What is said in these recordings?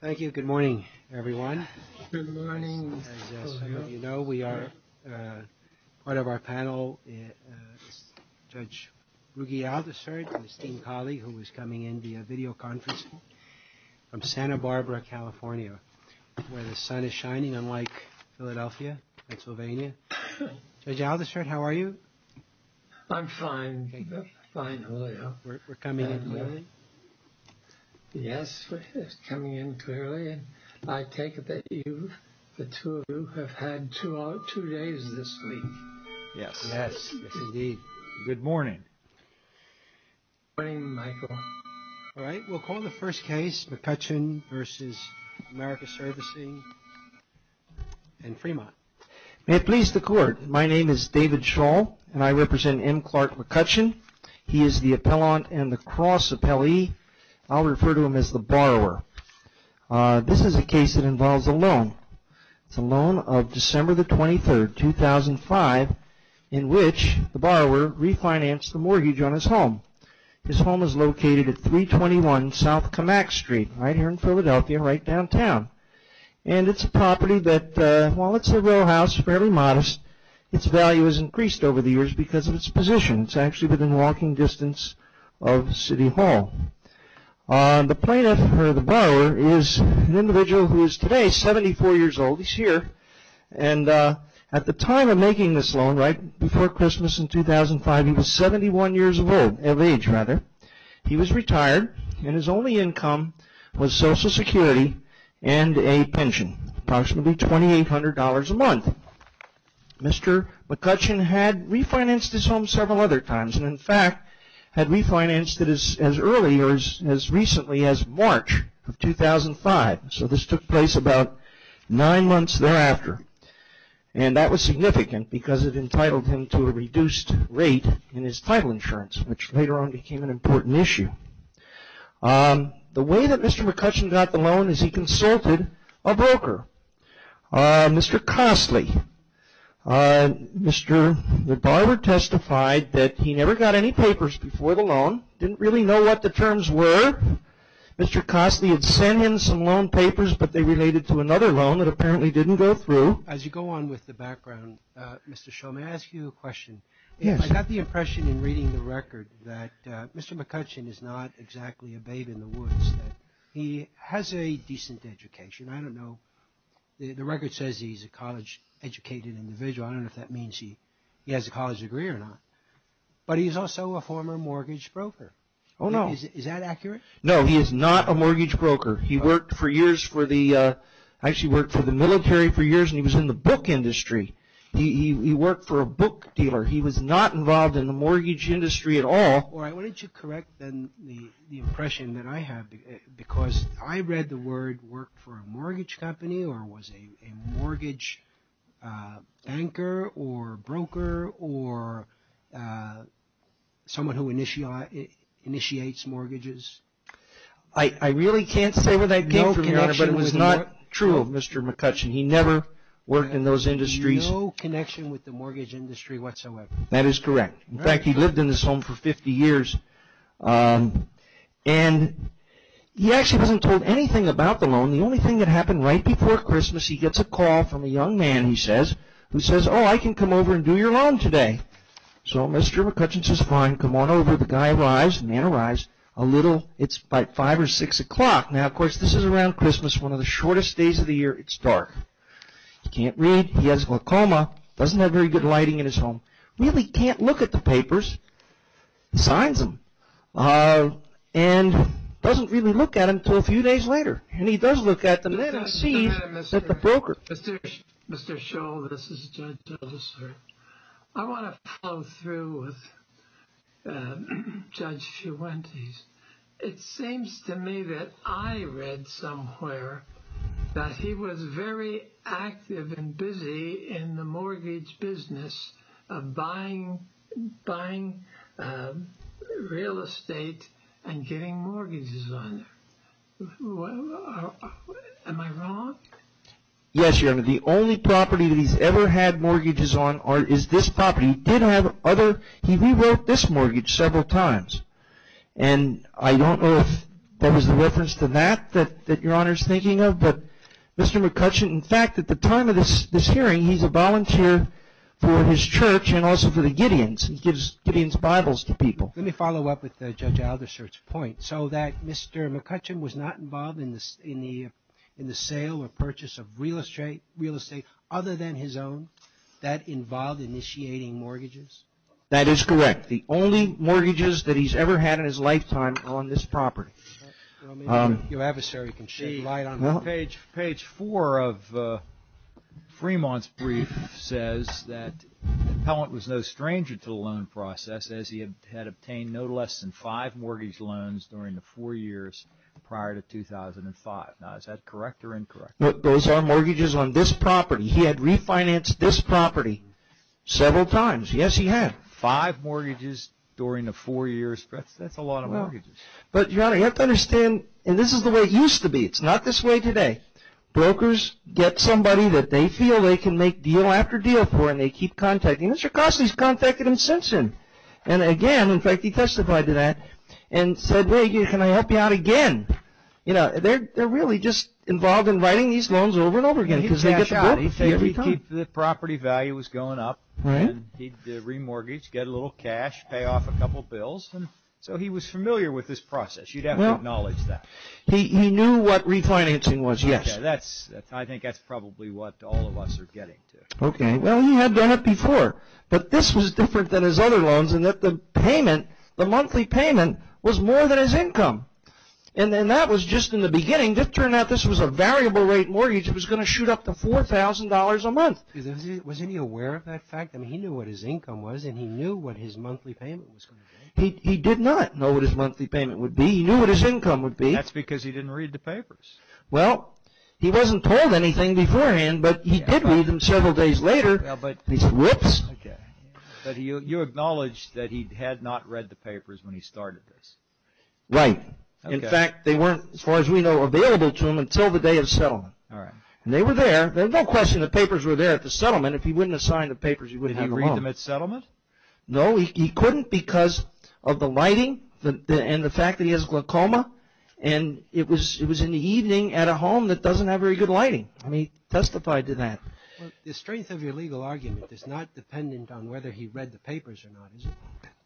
Thank you. Good morning, everyone. Good morning. As some of you know, we are part of our panel. Judge Rugi Aldershot, esteemed colleague, who is coming in via video conferencing from Santa Barbara, California, where the sun is shining unlike Philadelphia, Pennsylvania. Judge Aldershot, how are you? I'm fine. Fine. We're coming in. Yes, we're coming in clearly. I take it that you, the two of you, have had two days of sleep. Yes. Yes, indeed. Good morning. Good morning, Michael. All right, we'll call the first case, McCutcheon v. Americas Servicing in Fremont. May it please the Court, my name is David Shaw, and I represent M. Clark McCutcheon. He is the appellant and the cross appellee. I'll refer to him as the borrower. This is a case that involves a loan. It's a loan of December the 23rd, 2005, in which the borrower refinanced the mortgage on his home. His home is located at 321 South Camac Street, right here in Philadelphia, right downtown. And it's a property that, while it's a row house, fairly modest, its value has increased over the years because of its position. It's actually within walking distance of City Hall. The plaintiff, or the borrower, is an individual who is today 74 years old. He's here. And at the time of making this loan, right before Christmas in 2005, he was 71 years of age. He was retired, and his only income was Social Security and a pension, approximately $2,800 a month. Mr. McCutcheon had refinanced his home several other times, and in fact had refinanced it as early or as recently as March of 2005. So this took place about nine months thereafter. And that was significant because it entitled him to a reduced rate in his title insurance, which later on became an important issue. The way that Mr. McCutcheon got the loan is he consulted a broker. Mr. Costley, the borrower testified that he never got any papers before the loan, didn't really know what the terms were. Mr. Costley had sent him some loan papers, but they related to another loan that apparently didn't go through. As you go on with the background, Mr. Shull, may I ask you a question? Yes. I got the impression in reading the record that Mr. McCutcheon is not exactly a babe in the woods, that he has a decent education. I don't know. The record says he's a college-educated individual. I don't know if that means he has a college degree or not. But he's also a former mortgage broker. Oh, no. Is that accurate? No, he is not a mortgage broker. He worked for years for the – actually worked for the military for years, and he was in the book industry. He worked for a book dealer. He was not involved in the mortgage industry at all. All right. Why don't you correct then the impression that I have, because I read the word worked for a mortgage company or was a mortgage banker or broker or someone who initiates mortgages. I really can't say where that came from, Your Honor, but it was not true of Mr. McCutcheon. He never worked in those industries. No connection with the mortgage industry whatsoever. That is correct. In fact, he lived in this home for 50 years, and he actually wasn't told anything about the loan. The only thing that happened right before Christmas, he gets a call from a young man, he says, who says, oh, I can come over and do your loan today. So Mr. McCutcheon says, fine, come on over. The guy arrives. The man arrives. It's about 5 or 6 o'clock. Now, of course, this is around Christmas, one of the shortest days of the year. It's dark. He can't read. He has glaucoma. He doesn't have very good lighting in his home. Really can't look at the papers. Signs them. And doesn't really look at them until a few days later. And he does look at them. Then he sees that the broker. Mr. Shull, this is Judge Dillister. I want to follow through with Judge Fuentes. It seems to me that I read somewhere that he was very active and busy in the mortgage business of buying real estate and getting mortgages on it. Am I wrong? Yes, Your Honor. The only property that he's ever had mortgages on is this property. He rewrote this mortgage several times. And I don't know if that was the reference to that that Your Honor is thinking of. But Mr. McCutcheon, in fact, at the time of this hearing, he's a volunteer for his church and also for the Gideons. He gives Gideons Bibles to people. Let me follow up with Judge Aldershot's point. So that Mr. McCutcheon was not involved in the sale or purchase of real estate other than his own. That involved initiating mortgages? That is correct. The only mortgages that he's ever had in his lifetime are on this property. Your adversary can shed light on that. Page four of Fremont's brief says that Pellant was no stranger to the loan process as he had obtained no less than five mortgage loans during the four years prior to 2005. Now, is that correct or incorrect? Those are mortgages on this property. He had refinanced this property several times. Yes, he had. Five mortgages during the four years. That's a lot of mortgages. But Your Honor, you have to understand, and this is the way it used to be. It's not this way today. Brokers get somebody that they feel they can make deal after deal for and they keep contacting. Mr. Costley has contacted him since then. And again, in fact, he testified to that and said, wait, can I help you out again? You know, they're really just involved in writing these loans over and over again because they get the book every time. He'd cash out. He'd keep the property value was going up. He'd remortgage, get a little cash, pay off a couple bills. So he was familiar with this process. You'd have to acknowledge that. He knew what refinancing was, yes. I think that's probably what all of us are getting to. Okay. Well, he had done it before. But this was different than his other loans in that the payment, the monthly payment, was more than his income. And that was just in the beginning. I mean, it turned out this was a variable rate mortgage. It was going to shoot up to $4,000 a month. Was he aware of that fact? I mean, he knew what his income was and he knew what his monthly payment was going to be. He did not know what his monthly payment would be. He knew what his income would be. That's because he didn't read the papers. Well, he wasn't told anything beforehand, but he did read them several days later. He said, whoops. Okay. But you acknowledged that he had not read the papers when he started this. Right. In fact, they weren't, as far as we know, available to him until the day of settlement. All right. And they were there. There's no question the papers were there at the settlement. If he wouldn't have signed the papers, he wouldn't have a loan. Did he read them at settlement? No. He couldn't because of the lighting and the fact that he has glaucoma. And it was in the evening at a home that doesn't have very good lighting. And he testified to that. The strength of your legal argument is not dependent on whether he read the papers or not, is it?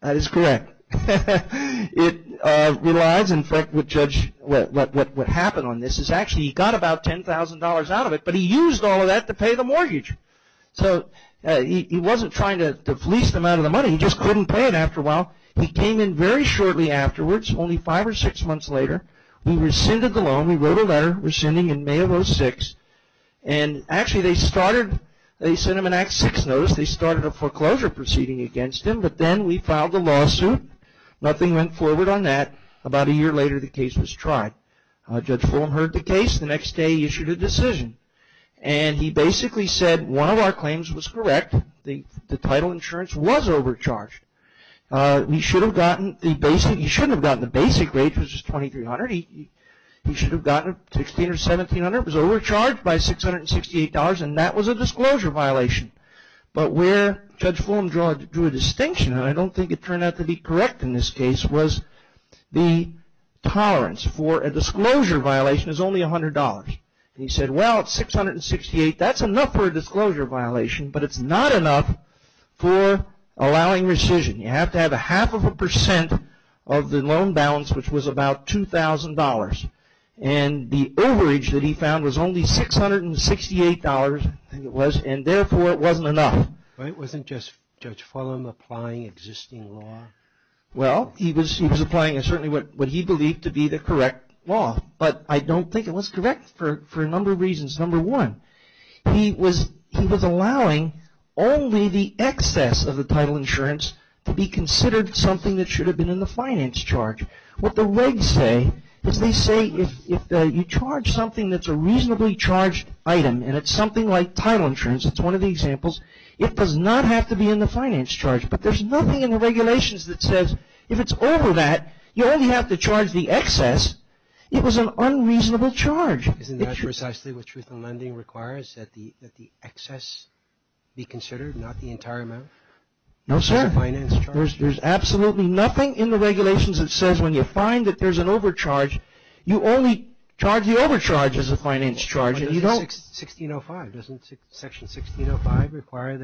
That is correct. It relies, in fact, what happened on this is actually he got about $10,000 out of it, but he used all of that to pay the mortgage. So he wasn't trying to fleece them out of the money. He just couldn't pay it after a while. He came in very shortly afterwards, only five or six months later. We rescinded the loan. We wrote a letter rescinding in May of 2006. And actually, they sent him an Act VI notice. They started a foreclosure proceeding against him. But then we filed a lawsuit. Nothing went forward on that. About a year later, the case was tried. Judge Fulham heard the case. The next day, he issued a decision. And he basically said one of our claims was correct. The title insurance was overcharged. He shouldn't have gotten the basic rate, which was $2,300. He should have gotten $1,600 or $1,700. It was overcharged by $668, and that was a disclosure violation. But where Judge Fulham drew a distinction, and I don't think it turned out to be correct in this case, was the tolerance for a disclosure violation is only $100. He said, well, it's $668. That's enough for a disclosure violation, but it's not enough for allowing rescission. You have to have a half of a percent of the loan balance, which was about $2,000. And the overage that he found was only $668, I think it was, and therefore it wasn't enough. It wasn't just Judge Fulham applying existing law. Well, he was applying certainly what he believed to be the correct law. But I don't think it was correct for a number of reasons. Number one, he was allowing only the excess of the title insurance to be considered something that should have been in the finance charge. What the regs say is they say if you charge something that's a reasonably charged item, and it's something like title insurance, it's one of the examples, it does not have to be in the finance charge. But there's nothing in the regulations that says if it's over that, you only have to charge the excess. It was an unreasonable charge. Isn't that precisely what truth in lending requires, that the excess be considered, not the entire amount? No, sir. There's absolutely nothing in the regulations that says when you find that there's an overcharge, you only charge the overcharge as a finance charge. Doesn't Section 1605 require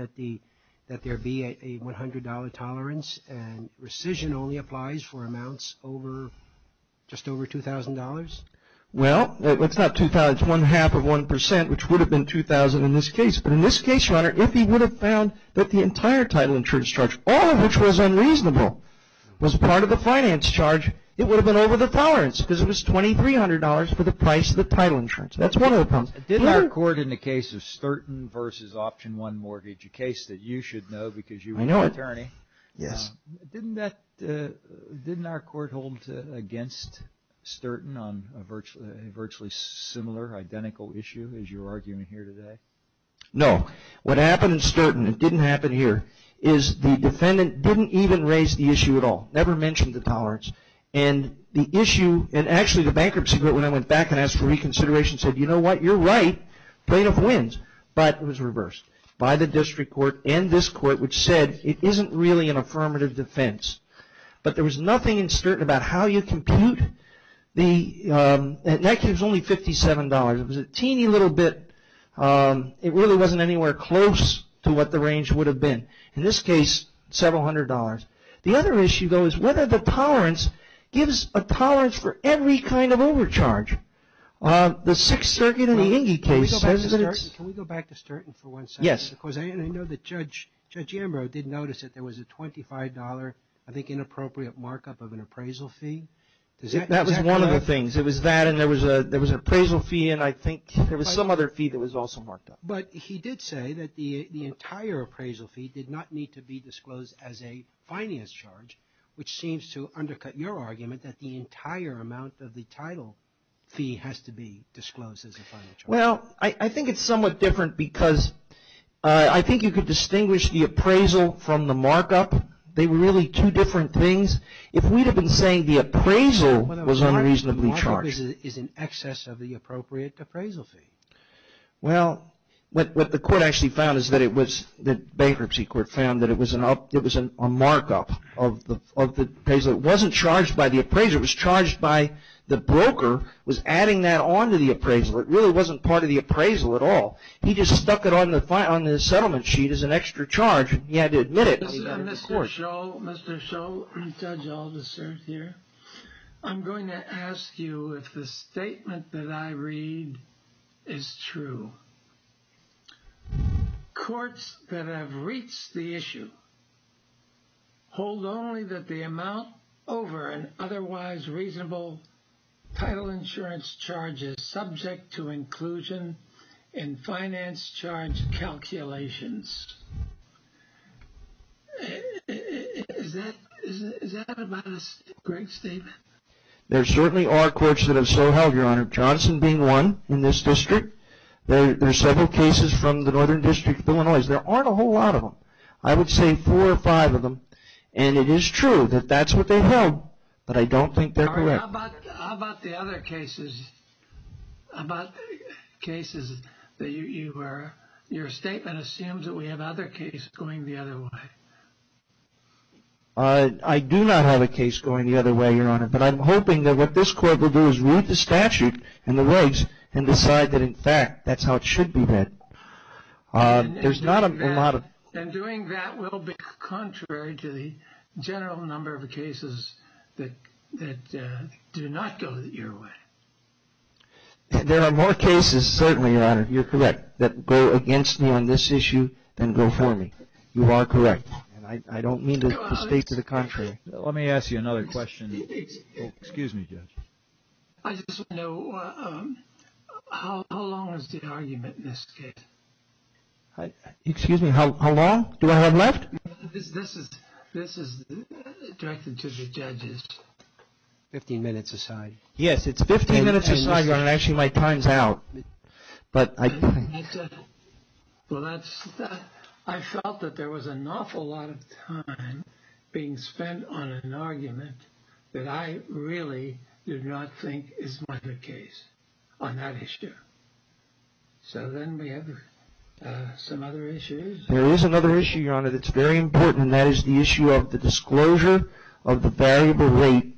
that there be a $100 tolerance and rescission only applies for amounts just over $2,000? Well, it's not $2,000. It's one-half of 1%, which would have been $2,000 in this case. But in this case, Your Honor, if he would have found that the entire title insurance charge, all of which was unreasonable, was part of the finance charge, it would have been over the tolerance because it was $2,300 for the price of the title insurance. That's one of the problems. Did our court in the case of Sturton v. Option 1 Mortgage, a case that you should know because you were an attorney. Yes. Didn't our court hold against Sturton on a virtually similar, identical issue as you're arguing here today? No. What happened in Sturton, it didn't happen here, is the defendant didn't even raise the issue at all, never mentioned the tolerance. Actually, the bankruptcy court, when I went back and asked for reconsideration, said, you know what, you're right. Plaintiff wins. But it was reversed by the district court and this court, which said it isn't really an affirmative defense. But there was nothing in Sturton about how you compute. In that case, it was only $57. It was a teeny little bit. It really wasn't anywhere close to what the range would have been. In this case, several hundred dollars. The other issue, though, is whether the tolerance gives a tolerance for every kind of overcharge. The Sixth Circuit in the Inge case says that it's Can we go back to Sturton for one second? Yes. Because I know that Judge Ambrose did notice that there was a $25, I think, inappropriate markup of an appraisal fee. That was one of the things. It was that and there was an appraisal fee and I think there was some other fee that was also marked up. But he did say that the entire appraisal fee did not need to be disclosed as a finance charge, which seems to undercut your argument that the entire amount of the title fee has to be disclosed. Well, I think it's somewhat different because I think you could distinguish the appraisal from the markup. They were really two different things. If we'd have been saying the appraisal was unreasonably charged. The appraisal is in excess of the appropriate appraisal fee. Well, what the court actually found is that it was the bankruptcy court found that it was a markup of the appraisal. It wasn't charged by the appraiser. It was charged by the broker was adding that on to the appraisal. It really wasn't part of the appraisal at all. He just stuck it on the settlement sheet as an extra charge. He had to admit it. Mr. Shull, Judge Alderson here. I'm going to ask you if the statement that I read is true. Courts that have reached the issue hold only that the amount over an otherwise reasonable title insurance charge is subject to inclusion in finance charge calculations. Is that a great statement? There certainly are courts that have so held, Your Honor. Johnson being one in this district. There are several cases from the Northern District of Illinois. There aren't a whole lot of them. I would say four or five of them. And it is true that that's what they held. But I don't think they're correct. How about the other cases? How about cases that your statement assumes that we have other cases going the other way? I do not have a case going the other way, Your Honor. But I'm hoping that what this court will do is read the statute and the legs and decide that, in fact, that's how it should be read. And doing that will be contrary to the general number of cases that do not go the other way. There are more cases, certainly, Your Honor, you're correct, that go against me on this issue than go for me. You are correct. And I don't mean to state to the contrary. Let me ask you another question. Excuse me, Judge. I just want to know how long was the argument in this case? Excuse me, how long? Do I have left? This is directed to the judges. Fifteen minutes aside. Yes, it's fifteen minutes aside, Your Honor. Actually, my time's out. I felt that there was an awful lot of time being spent on an argument that I really did not think is my good case on that issue. So then we have some other issues. There is another issue, Your Honor, that's very important. And that is the issue of the disclosure of the variable rate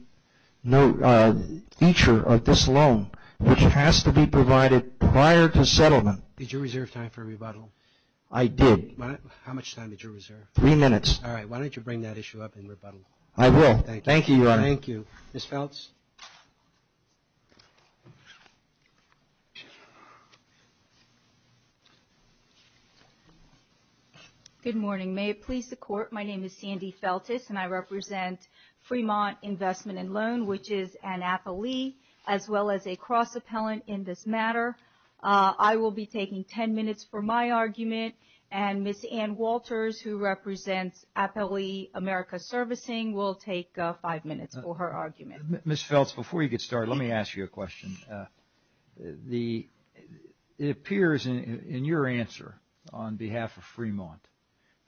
feature of this loan, which has to be provided prior to settlement. Did you reserve time for rebuttal? I did. How much time did you reserve? Three minutes. All right. Why don't you bring that issue up in rebuttal? I will. Thank you, Your Honor. Thank you. Ms. Feltz? Good morning. May it please the Court, my name is Sandy Feltz, and I represent Fremont Investment and Loan, which is an appellee as well as a cross-appellant in this matter. I will be taking ten minutes for my argument, and Ms. Ann Walters, who represents Appellee America Servicing, will take five minutes for her argument. Ms. Feltz, before you get started, let me ask you a question. It appears in your answer on behalf of Fremont,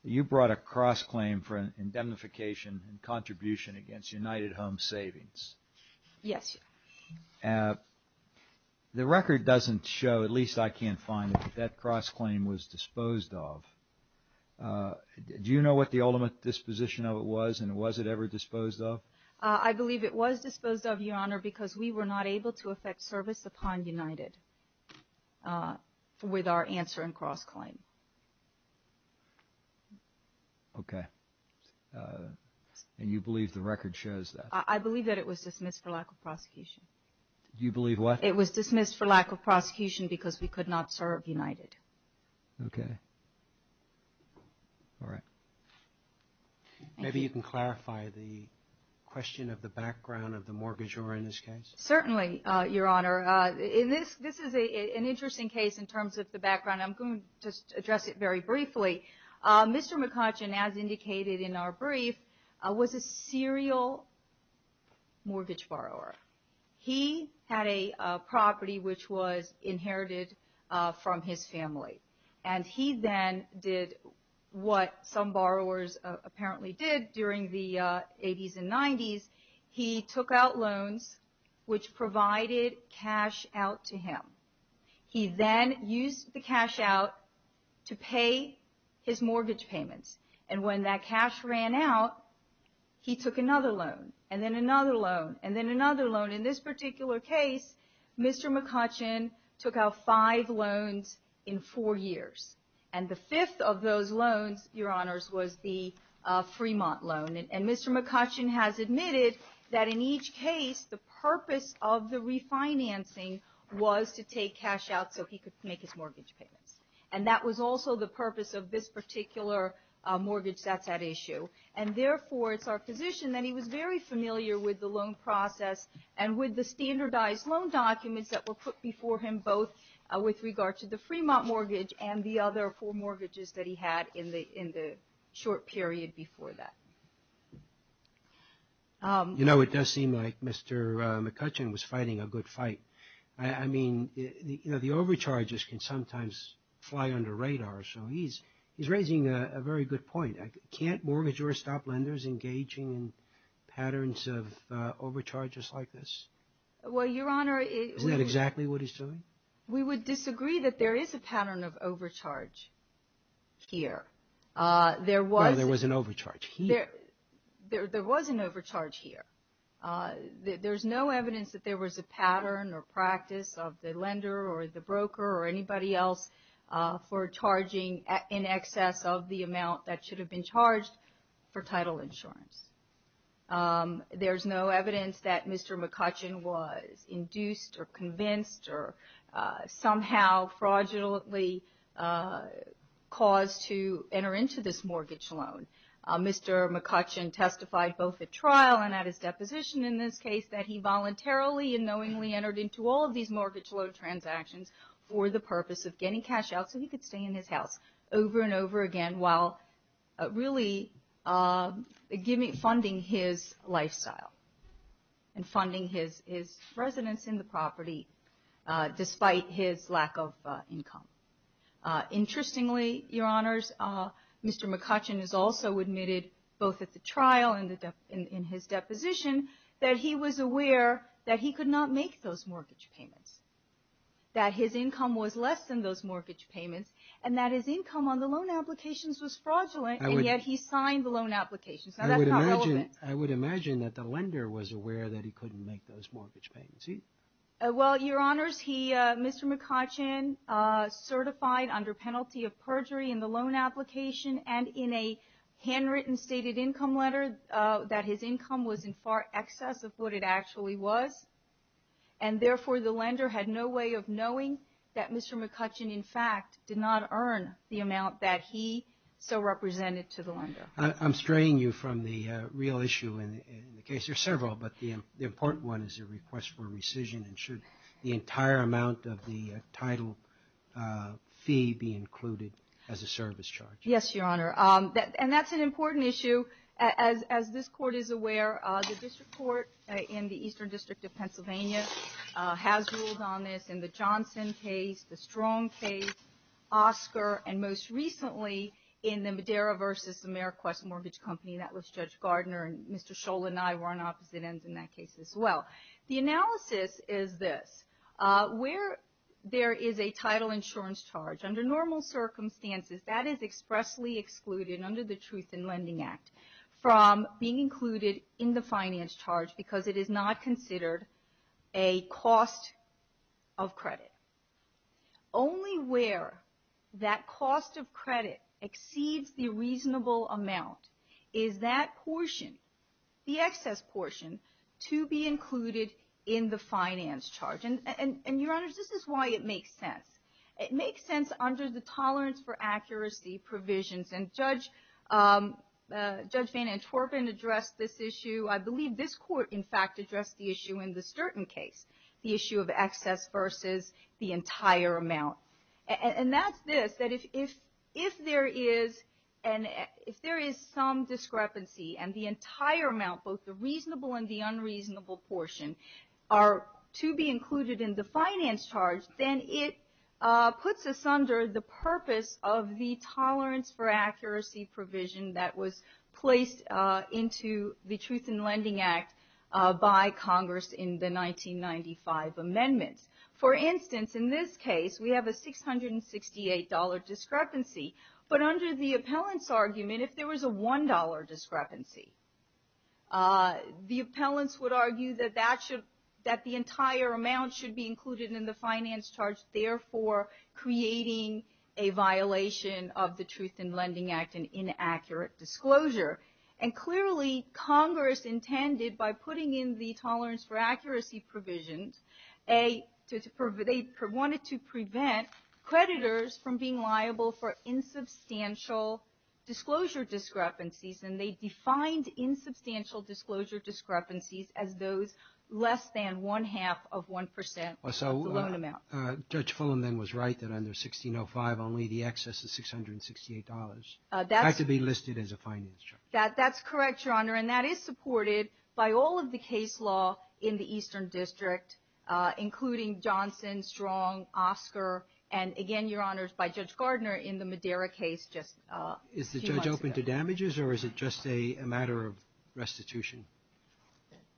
you brought a cross-claim for indemnification and contribution against United Home Savings. Yes. The record doesn't show, at least I can't find it, that that cross-claim was disposed of. Do you know what the ultimate disposition of it was, and was it ever disposed of? I believe it was disposed of, Your Honor, because we were not able to effect service upon United with our answer and cross-claim. Okay. And you believe the record shows that? I believe that it was dismissed for lack of prosecution. You believe what? It was dismissed for lack of prosecution because we could not serve United. Okay. All right. Maybe you can clarify the question of the background of the mortgagor in this case. Certainly, Your Honor. This is an interesting case in terms of the background. I'm going to just address it very briefly. Mr. McCutcheon, as indicated in our brief, was a serial mortgage borrower. He had a property which was inherited from his family, and he then did what some borrowers apparently did during the 80s and 90s. He took out loans which provided cash out to him. He then used the cash out to pay his mortgage payments. And when that cash ran out, he took another loan, and then another loan, and then another loan. In this particular case, Mr. McCutcheon took out five loans in four years, and the fifth of those loans, Your Honors, was the Fremont loan. And Mr. McCutcheon has admitted that in each case, the purpose of the refinancing was to take cash out so he could make his mortgage payments. And that was also the purpose of this particular mortgage that's at issue. And therefore, it's our position that he was very familiar with the loan process and with the standardized loan documents that were put before him, both with regard to the Fremont mortgage and the other four mortgages that he had in the short period before that. You know, it does seem like Mr. McCutcheon was fighting a good fight. I mean, you know, the overcharges can sometimes fly under radar, so he's raising a very good point. Can't mortgagors stop lenders engaging in patterns of overcharges like this? Well, Your Honor, we would disagree that there is a pattern of overcharge here. There was an overcharge here. There was an overcharge here. There's no evidence that there was a pattern or practice of the lender or the broker or anybody else for charging in excess of the amount that should have been charged for title insurance. There's no evidence that Mr. McCutcheon was induced or convinced or somehow fraudulently caused to enter into this mortgage loan. Mr. McCutcheon testified both at trial and at his deposition in this case that he voluntarily and knowingly entered into all of these mortgage loan transactions for the purpose of getting cash out so he could stay in his house over and over again while really funding his lifestyle and funding his residence in the property despite his lack of income. Interestingly, Your Honors, Mr. McCutcheon has also admitted both at the trial and in his deposition that he was aware that he could not make those mortgage payments, that his income was less than those mortgage payments, and that his income on the loan applications was fraudulent, and yet he signed the loan applications. Now, that's not relevant. I would imagine that the lender was aware that he couldn't make those mortgage payments. Well, Your Honors, Mr. McCutcheon certified under penalty of perjury in the loan application and in a handwritten stated income letter that his income was in far excess of what it actually was, and therefore the lender had no way of knowing that Mr. McCutcheon, in fact, did not earn the amount that he so represented to the lender. I'm straying you from the real issue in the case. There are several, but the important one is a request for rescission, and should the entire amount of the title fee be included as a service charge? Yes, Your Honor, and that's an important issue. As this Court is aware, the district court in the Eastern District of Pennsylvania has ruled on this in the Johnson case, the Strong case, Oscar, and most recently in the Madera v. Ameriquest Mortgage Company. That was Judge Gardner, and Mr. Scholl and I were on opposite ends in that case as well. The analysis is this. Where there is a title insurance charge, under normal circumstances, that is expressly excluded under the Truth in Lending Act from being included in the finance charge because it is not considered a cost of credit. Only where that cost of credit exceeds the reasonable amount is that portion, the excess portion, to be included in the finance charge. And, Your Honors, this is why it makes sense. It makes sense under the tolerance for accuracy provisions, and Judge Van Antwerpen addressed this issue. I believe this Court, in fact, addressed the issue in the Sturton case, the issue of excess versus the entire amount. And that's this, that if there is some discrepancy and the entire amount, both the reasonable and the unreasonable portion, are to be included in the finance charge, then it puts us under the purpose of the tolerance for accuracy provision that was placed into the Truth in Lending Act by Congress in the 1995 amendments. For instance, in this case, we have a $668 discrepancy. But under the appellant's argument, if there was a $1 discrepancy, the appellants would argue that the entire amount should be included in the finance charge, therefore creating a violation of the Truth in Lending Act, an inaccurate disclosure. And clearly, Congress intended by putting in the tolerance for accuracy provisions, they wanted to prevent creditors from being liable for insubstantial disclosure discrepancies. And they defined insubstantial disclosure discrepancies as those less than one-half of 1% of the loan amount. Judge Fulham then was right that under 1605, only the excess of $668 had to be listed as a finance charge. That's correct, Your Honor. And that is supported by all of the case law in the Eastern District, including Johnson, Strong, Oscar, and again, Your Honors, by Judge Gardner in the Madera case just a few months ago. Is the judge open to damages or is it just a matter of restitution?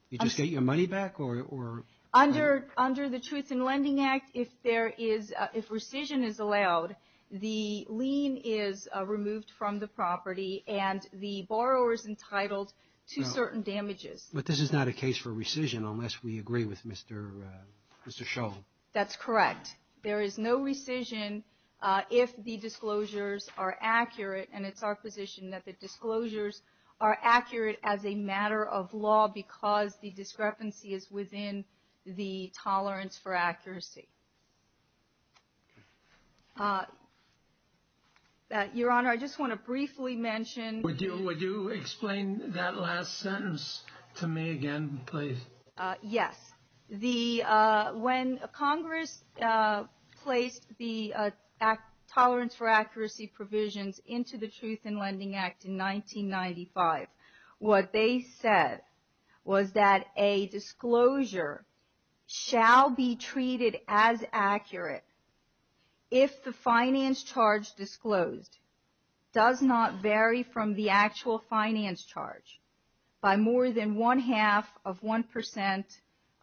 You just get your money back or? Under the Truth in Lending Act, if there is, if rescission is allowed, the lien is removed from the property and the borrower is entitled to certain damages. But this is not a case for rescission unless we agree with Mr. Shull. That's correct. There is no rescission if the disclosures are accurate, and it's our position that the disclosures are accurate as a matter of law because the discrepancy is within the tolerance for accuracy. Your Honor, I just want to briefly mention. Would you explain that last sentence to me again, please? Yes. When Congress placed the Tolerance for Accuracy provisions into the Truth in Lending Act in 1995, what they said was that a disclosure shall be treated as accurate if the finance charge disclosed does not vary from the actual finance charge by more than one-half of one percent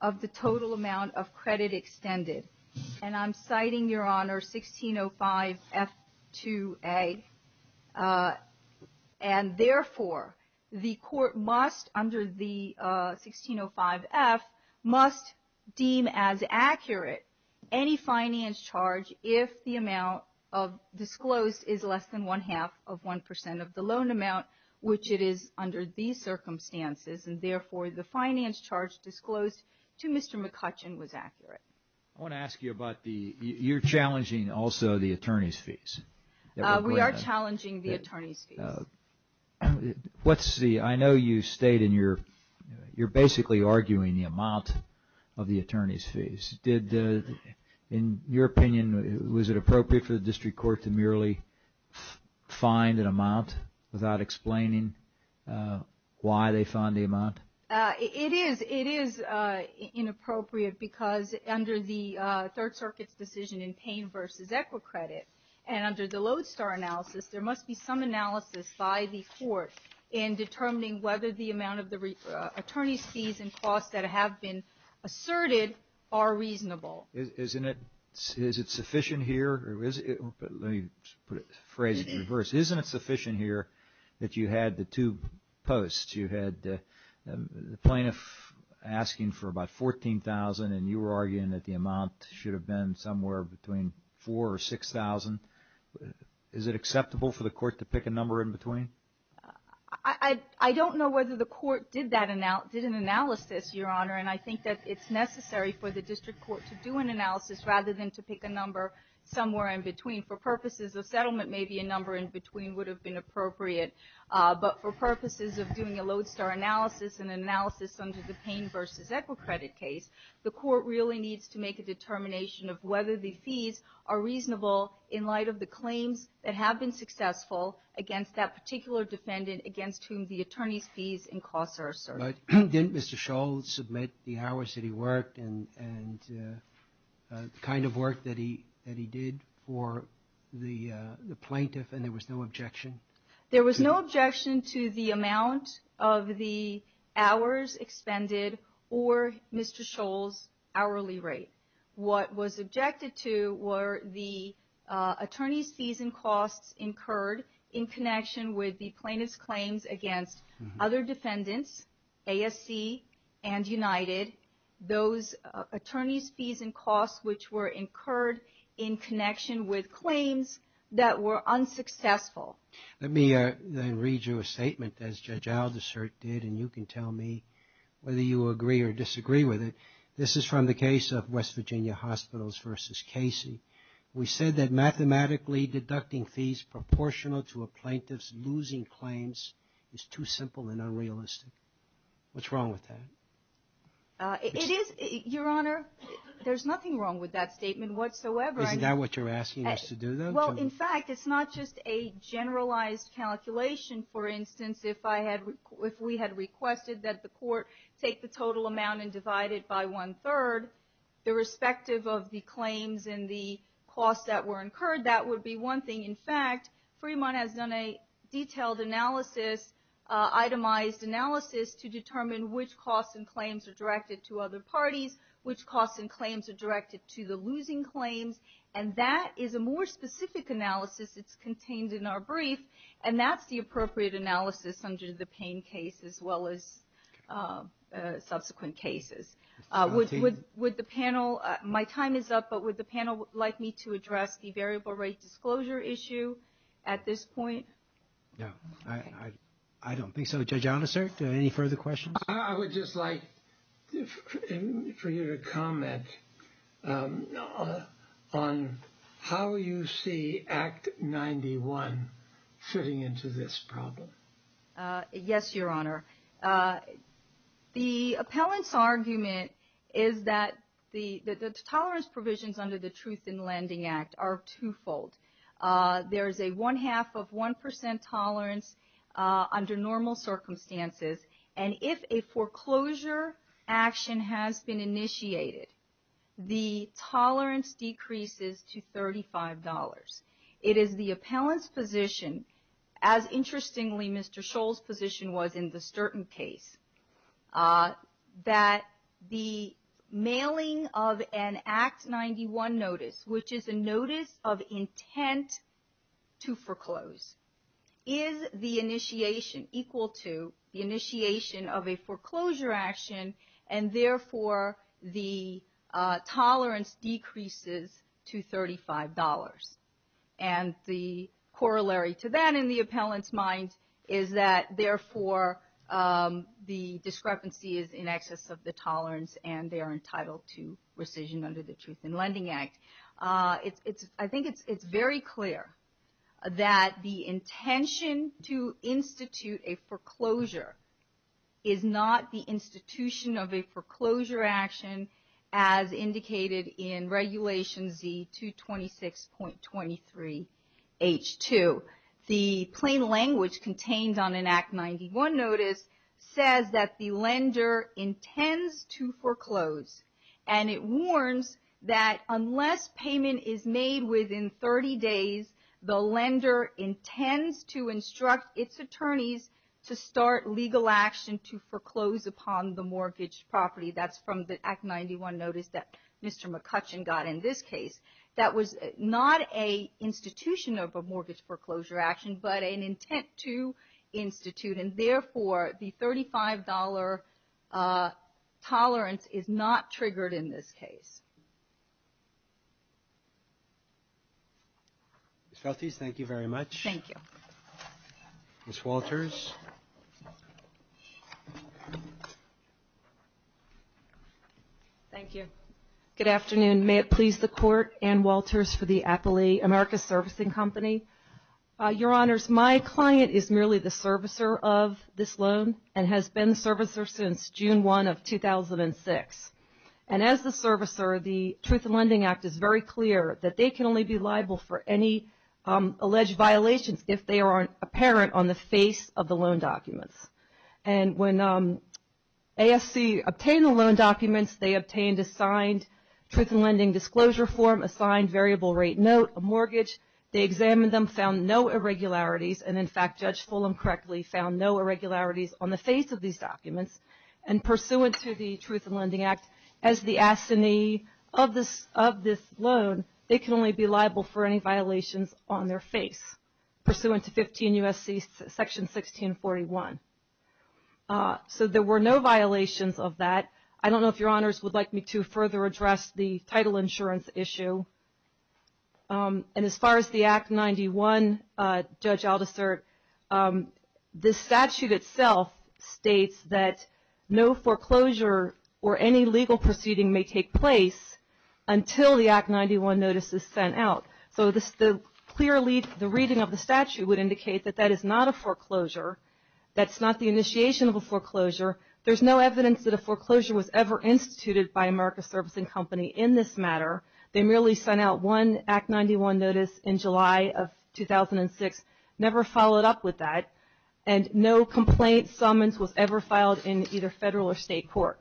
of the total amount of credit extended. And I'm citing, Your Honor, 1605F2A. And therefore, the court must, under the 1605F, must deem as accurate any finance charge if the amount of disclosed is less than one-half of one percent of the loan amount, which it is under these circumstances. And therefore, the finance charge disclosed to Mr. McCutcheon was accurate. I want to ask you about the, you're challenging also the attorney's fees. We are challenging the attorney's fees. What's the, I know you state in your, you're basically arguing the amount of the attorney's fees. Did, in your opinion, was it appropriate for the district court to merely find an amount without explaining why they found the amount? It is, it is inappropriate because under the Third Circuit's decision in Payne v. Equicredit, and under the Lodestar analysis, there must be some analysis by the court in determining whether the amount of the attorney's fees and costs that have been asserted are reasonable. Isn't it, is it sufficient here, or is it, let me phrase it in reverse. Isn't it sufficient here that you had the two posts? You had the plaintiff asking for about $14,000, and you were arguing that the amount should have been somewhere between $4,000 or $6,000. Is it acceptable for the court to pick a number in between? I don't know whether the court did that, did an analysis, Your Honor, and I think that it's necessary for the district court to do an analysis rather than to pick a number somewhere in between. For purposes of settlement, maybe a number in between would have been appropriate. But for purposes of doing a Lodestar analysis and an analysis under the Payne v. Equicredit case, the court really needs to make a determination of whether the fees are reasonable in light of the claims that have been successful against that particular defendant against whom the attorney's fees and costs are asserted. But didn't Mr. Shull submit the hours that he worked and the kind of work that he did for the plaintiff, and there was no objection? There was no objection to the amount of the hours expended or Mr. Shull's hourly rate. What was objected to were the attorney's fees and costs incurred in connection with the plaintiff's claims against other defendants, ASC and United, those attorney's fees and costs which were incurred in connection with claims that were unsuccessful. Let me then read you a statement, as Judge Aldersert did, and you can tell me whether you agree or disagree with it. This is from the case of West Virginia Hospitals v. Casey. We said that mathematically deducting fees proportional to a plaintiff's losing claims is too simple and unrealistic. What's wrong with that? It is, Your Honor, there's nothing wrong with that statement whatsoever. Isn't that what you're asking us to do, though? Well, in fact, it's not just a generalized calculation. For instance, if I had, if we had requested that the court take the total amount and divide it by one-third, irrespective of the claims and the costs that were incurred, that would be one thing. In fact, Fremont has done a detailed analysis, itemized analysis, to determine which costs and claims are directed to other parties, which costs and claims are directed to the losing claims, and that is a more specific analysis. It's contained in our brief, and that's the appropriate analysis under the Payne case as well as subsequent cases. Would the panel, my time is up, but would the panel like me to address the variable rate disclosure issue at this point? No, I don't think so. Judge Alnicert, any further questions? I would just like for you to comment on how you see Act 91 fitting into this problem. Yes, Your Honor. The appellant's argument is that the tolerance provisions under the Truth in Lending Act are twofold. There is a one-half of one percent tolerance under normal circumstances, and if a foreclosure action has been initiated, the tolerance decreases to $35. It is the appellant's position, as interestingly Mr. Scholl's position was in the Sturton case, that the mailing of an Act 91 notice, which is a notice of intent to foreclose, is the initiation equal to the initiation of a foreclosure action, and therefore the tolerance decreases to $35. And the corollary to that in the appellant's mind is that therefore the discrepancy is in excess of the tolerance and they are entitled to rescission under the Truth in Lending Act. I think it's very clear that the intention to institute a foreclosure is not the institution of a foreclosure action, as indicated in Regulation Z226.23H2. The plain language contained on an Act 91 notice says that the lender intends to foreclose, and it warns that unless payment is made within 30 days, the lender intends to instruct its attorneys to start legal action to foreclose upon the mortgage property. That's from the Act 91 notice that Mr. McCutcheon got in this case. That was not an institution of a mortgage foreclosure action, but an intent to institute, and therefore the $35 tolerance is not triggered in this case. Ms. Feltes, thank you very much. Thank you. Ms. Walters. Thank you. Good afternoon. May it please the Court, Ann Walters for the Appellee America Servicing Company. Your Honors, my client is merely the servicer of this loan and has been the servicer since June 1 of 2006. And as the servicer, the Truth in Lending Act is very clear that they can only be liable for any alleged violations if they are apparent on the face of the loan documents. And when ASC obtained the loan documents, they obtained a signed Truth in Lending disclosure form, a signed variable rate note, a mortgage. They examined them, found no irregularities. And, in fact, Judge Fulham correctly found no irregularities on the face of these documents. And pursuant to the Truth in Lending Act, as the assignee of this loan, they can only be liable for any violations on their face pursuant to 15 U.S.C. section 1641. So there were no violations of that. I don't know if Your Honors would like me to further address the title insurance issue. And as far as the Act 91, Judge Aldisert, this statute itself states that no foreclosure or any legal proceeding may take place until the Act 91 notice is sent out. So clearly the reading of the statute would indicate that that is not a foreclosure. That's not the initiation of a foreclosure. There's no evidence that a foreclosure was ever instituted by America Servicing Company in this matter. They merely sent out one Act 91 notice in July of 2006, never followed up with that, and no complaint summons was ever filed in either federal or state court.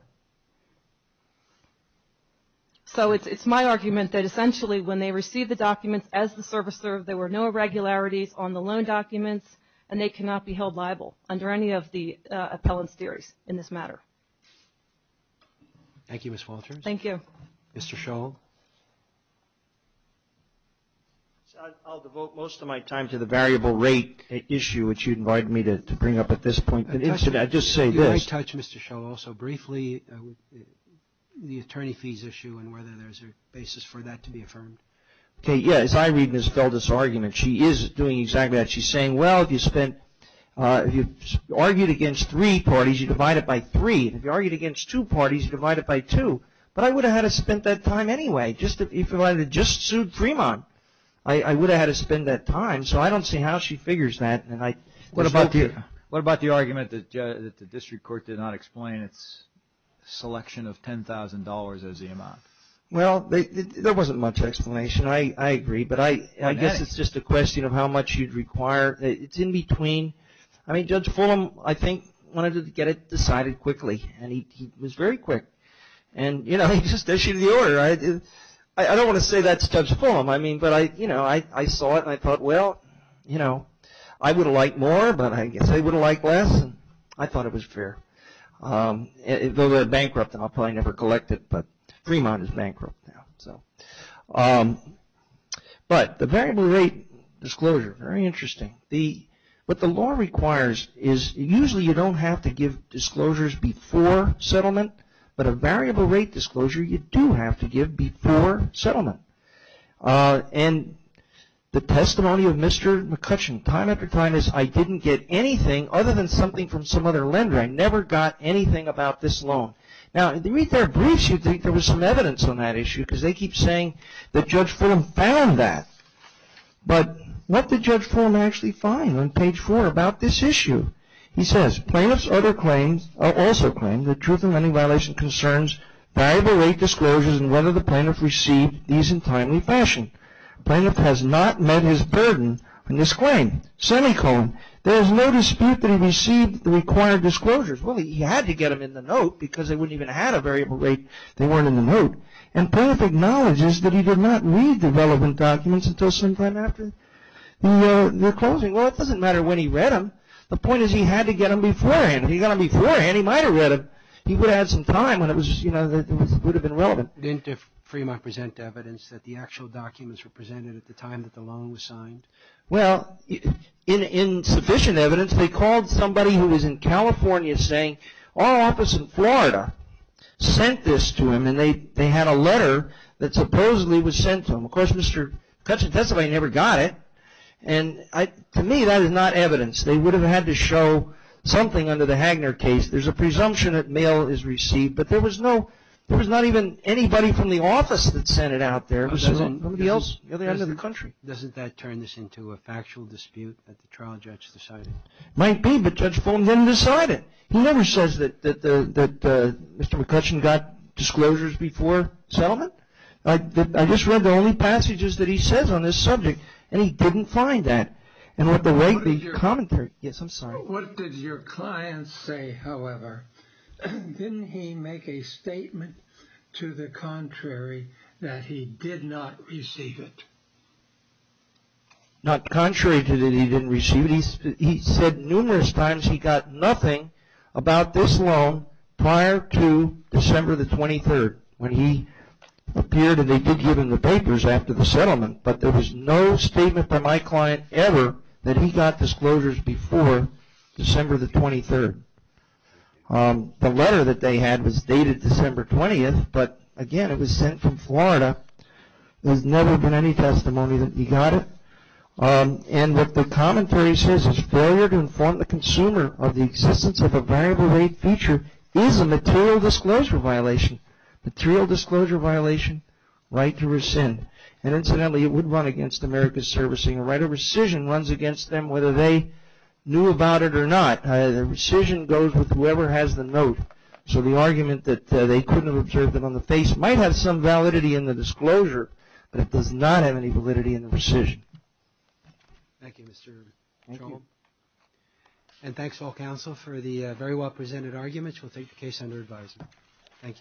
So it's my argument that essentially when they received the documents as the servicer, there were no irregularities on the loan documents, and they cannot be held liable under any of the appellant's theories in this matter. Thank you, Ms. Walters. Thank you. Mr. Scholl? I'll devote most of my time to the variable rate issue, which you invited me to bring up at this point. I just say this. Can I touch, Mr. Scholl, also briefly on the attorney fees issue and whether there's a basis for that to be affirmed? Okay, yeah. As I read Ms. Felder's argument, she is doing exactly that. She's saying, well, if you spent, if you argued against three parties, you divide it by three. If you argued against two parties, you divide it by two. But I would have had to spent that time anyway. If I had just sued Fremont, I would have had to spend that time. So I don't see how she figures that. What about the argument that the district court did not explain its selection of $10,000 as the amount? Well, there wasn't much explanation. I agree. But I guess it's just a question of how much you'd require. It's in between. I mean, Judge Fulham, I think, wanted to get it decided quickly, and he was very quick. And, you know, he just issued the order. I don't want to say that's Judge Fulham. I mean, but I, you know, I saw it, and I thought, well, you know, I would have liked more, but I guess they would have liked less, and I thought it was fair. Though they're bankrupt, and I'll probably never collect it, but Fremont is bankrupt now. But the variable rate disclosure, very interesting. What the law requires is usually you don't have to give disclosures before settlement, but a variable rate disclosure you do have to give before settlement. And the testimony of Mr. McCutcheon time after time is, I didn't get anything other than something from some other lender. I never got anything about this loan. Now, if you read their briefs, you'd think there was some evidence on that issue, because they keep saying that Judge Fulham found that. But what did Judge Fulham actually find on page four about this issue? He says, Plaintiff's other claims also claim that truth in lending violation concerns variable rate disclosures and whether the plaintiff received these in timely fashion. Plaintiff has not met his burden on this claim, semicolon. There is no dispute that he received the required disclosures. Well, he had to get them in the note, because they wouldn't even have had a variable rate. They weren't in the note. And Plaintiff acknowledges that he did not read the relevant documents until sometime after the closing. Well, it doesn't matter when he read them. The point is he had to get them beforehand. If he got them beforehand, he might have read them. He would have had some time when it would have been relevant. Didn't the Fremont present evidence that the actual documents were presented at the time that the loan was signed? Well, in sufficient evidence, they called somebody who was in California saying, our office in Florida sent this to him. And they had a letter that supposedly was sent to him. Of course, Mr. McCutcheon testified he never got it. And to me, that is not evidence. They would have had to show something under the Hagner case. There's a presumption that mail is received. But there was not even anybody from the office that sent it out there. Nobody else, other than the country. Doesn't that turn this into a factual dispute that the trial judge decided? It might be, but Judge Fulham didn't decide it. He never says that Mr. McCutcheon got disclosures before settlement. I just read the only passages that he says on this subject. And he didn't find that. What did your client say, however? Didn't he make a statement to the contrary that he did not receive it? Not contrary to that he didn't receive it. He said numerous times he got nothing about this loan prior to December the 23rd. When he appeared and they did give him the papers after the settlement. But there was no statement by my client ever that he got disclosures before December the 23rd. The letter that they had was dated December 20th. But, again, it was sent from Florida. There's never been any testimony that he got it. And what the commentary says is failure to inform the consumer of the existence of a variable rate feature is a material disclosure violation. Material disclosure violation, right to rescind. And, incidentally, it would run against America's servicing right. A rescission runs against them whether they knew about it or not. A rescission goes with whoever has the note. So the argument that they couldn't have observed it on the face might have some validity in the disclosure, but it does not have any validity in the rescission. Thank you, Mr. Troll. And thanks to all counsel for the very well presented arguments. We'll take the case under advisement. Thank you.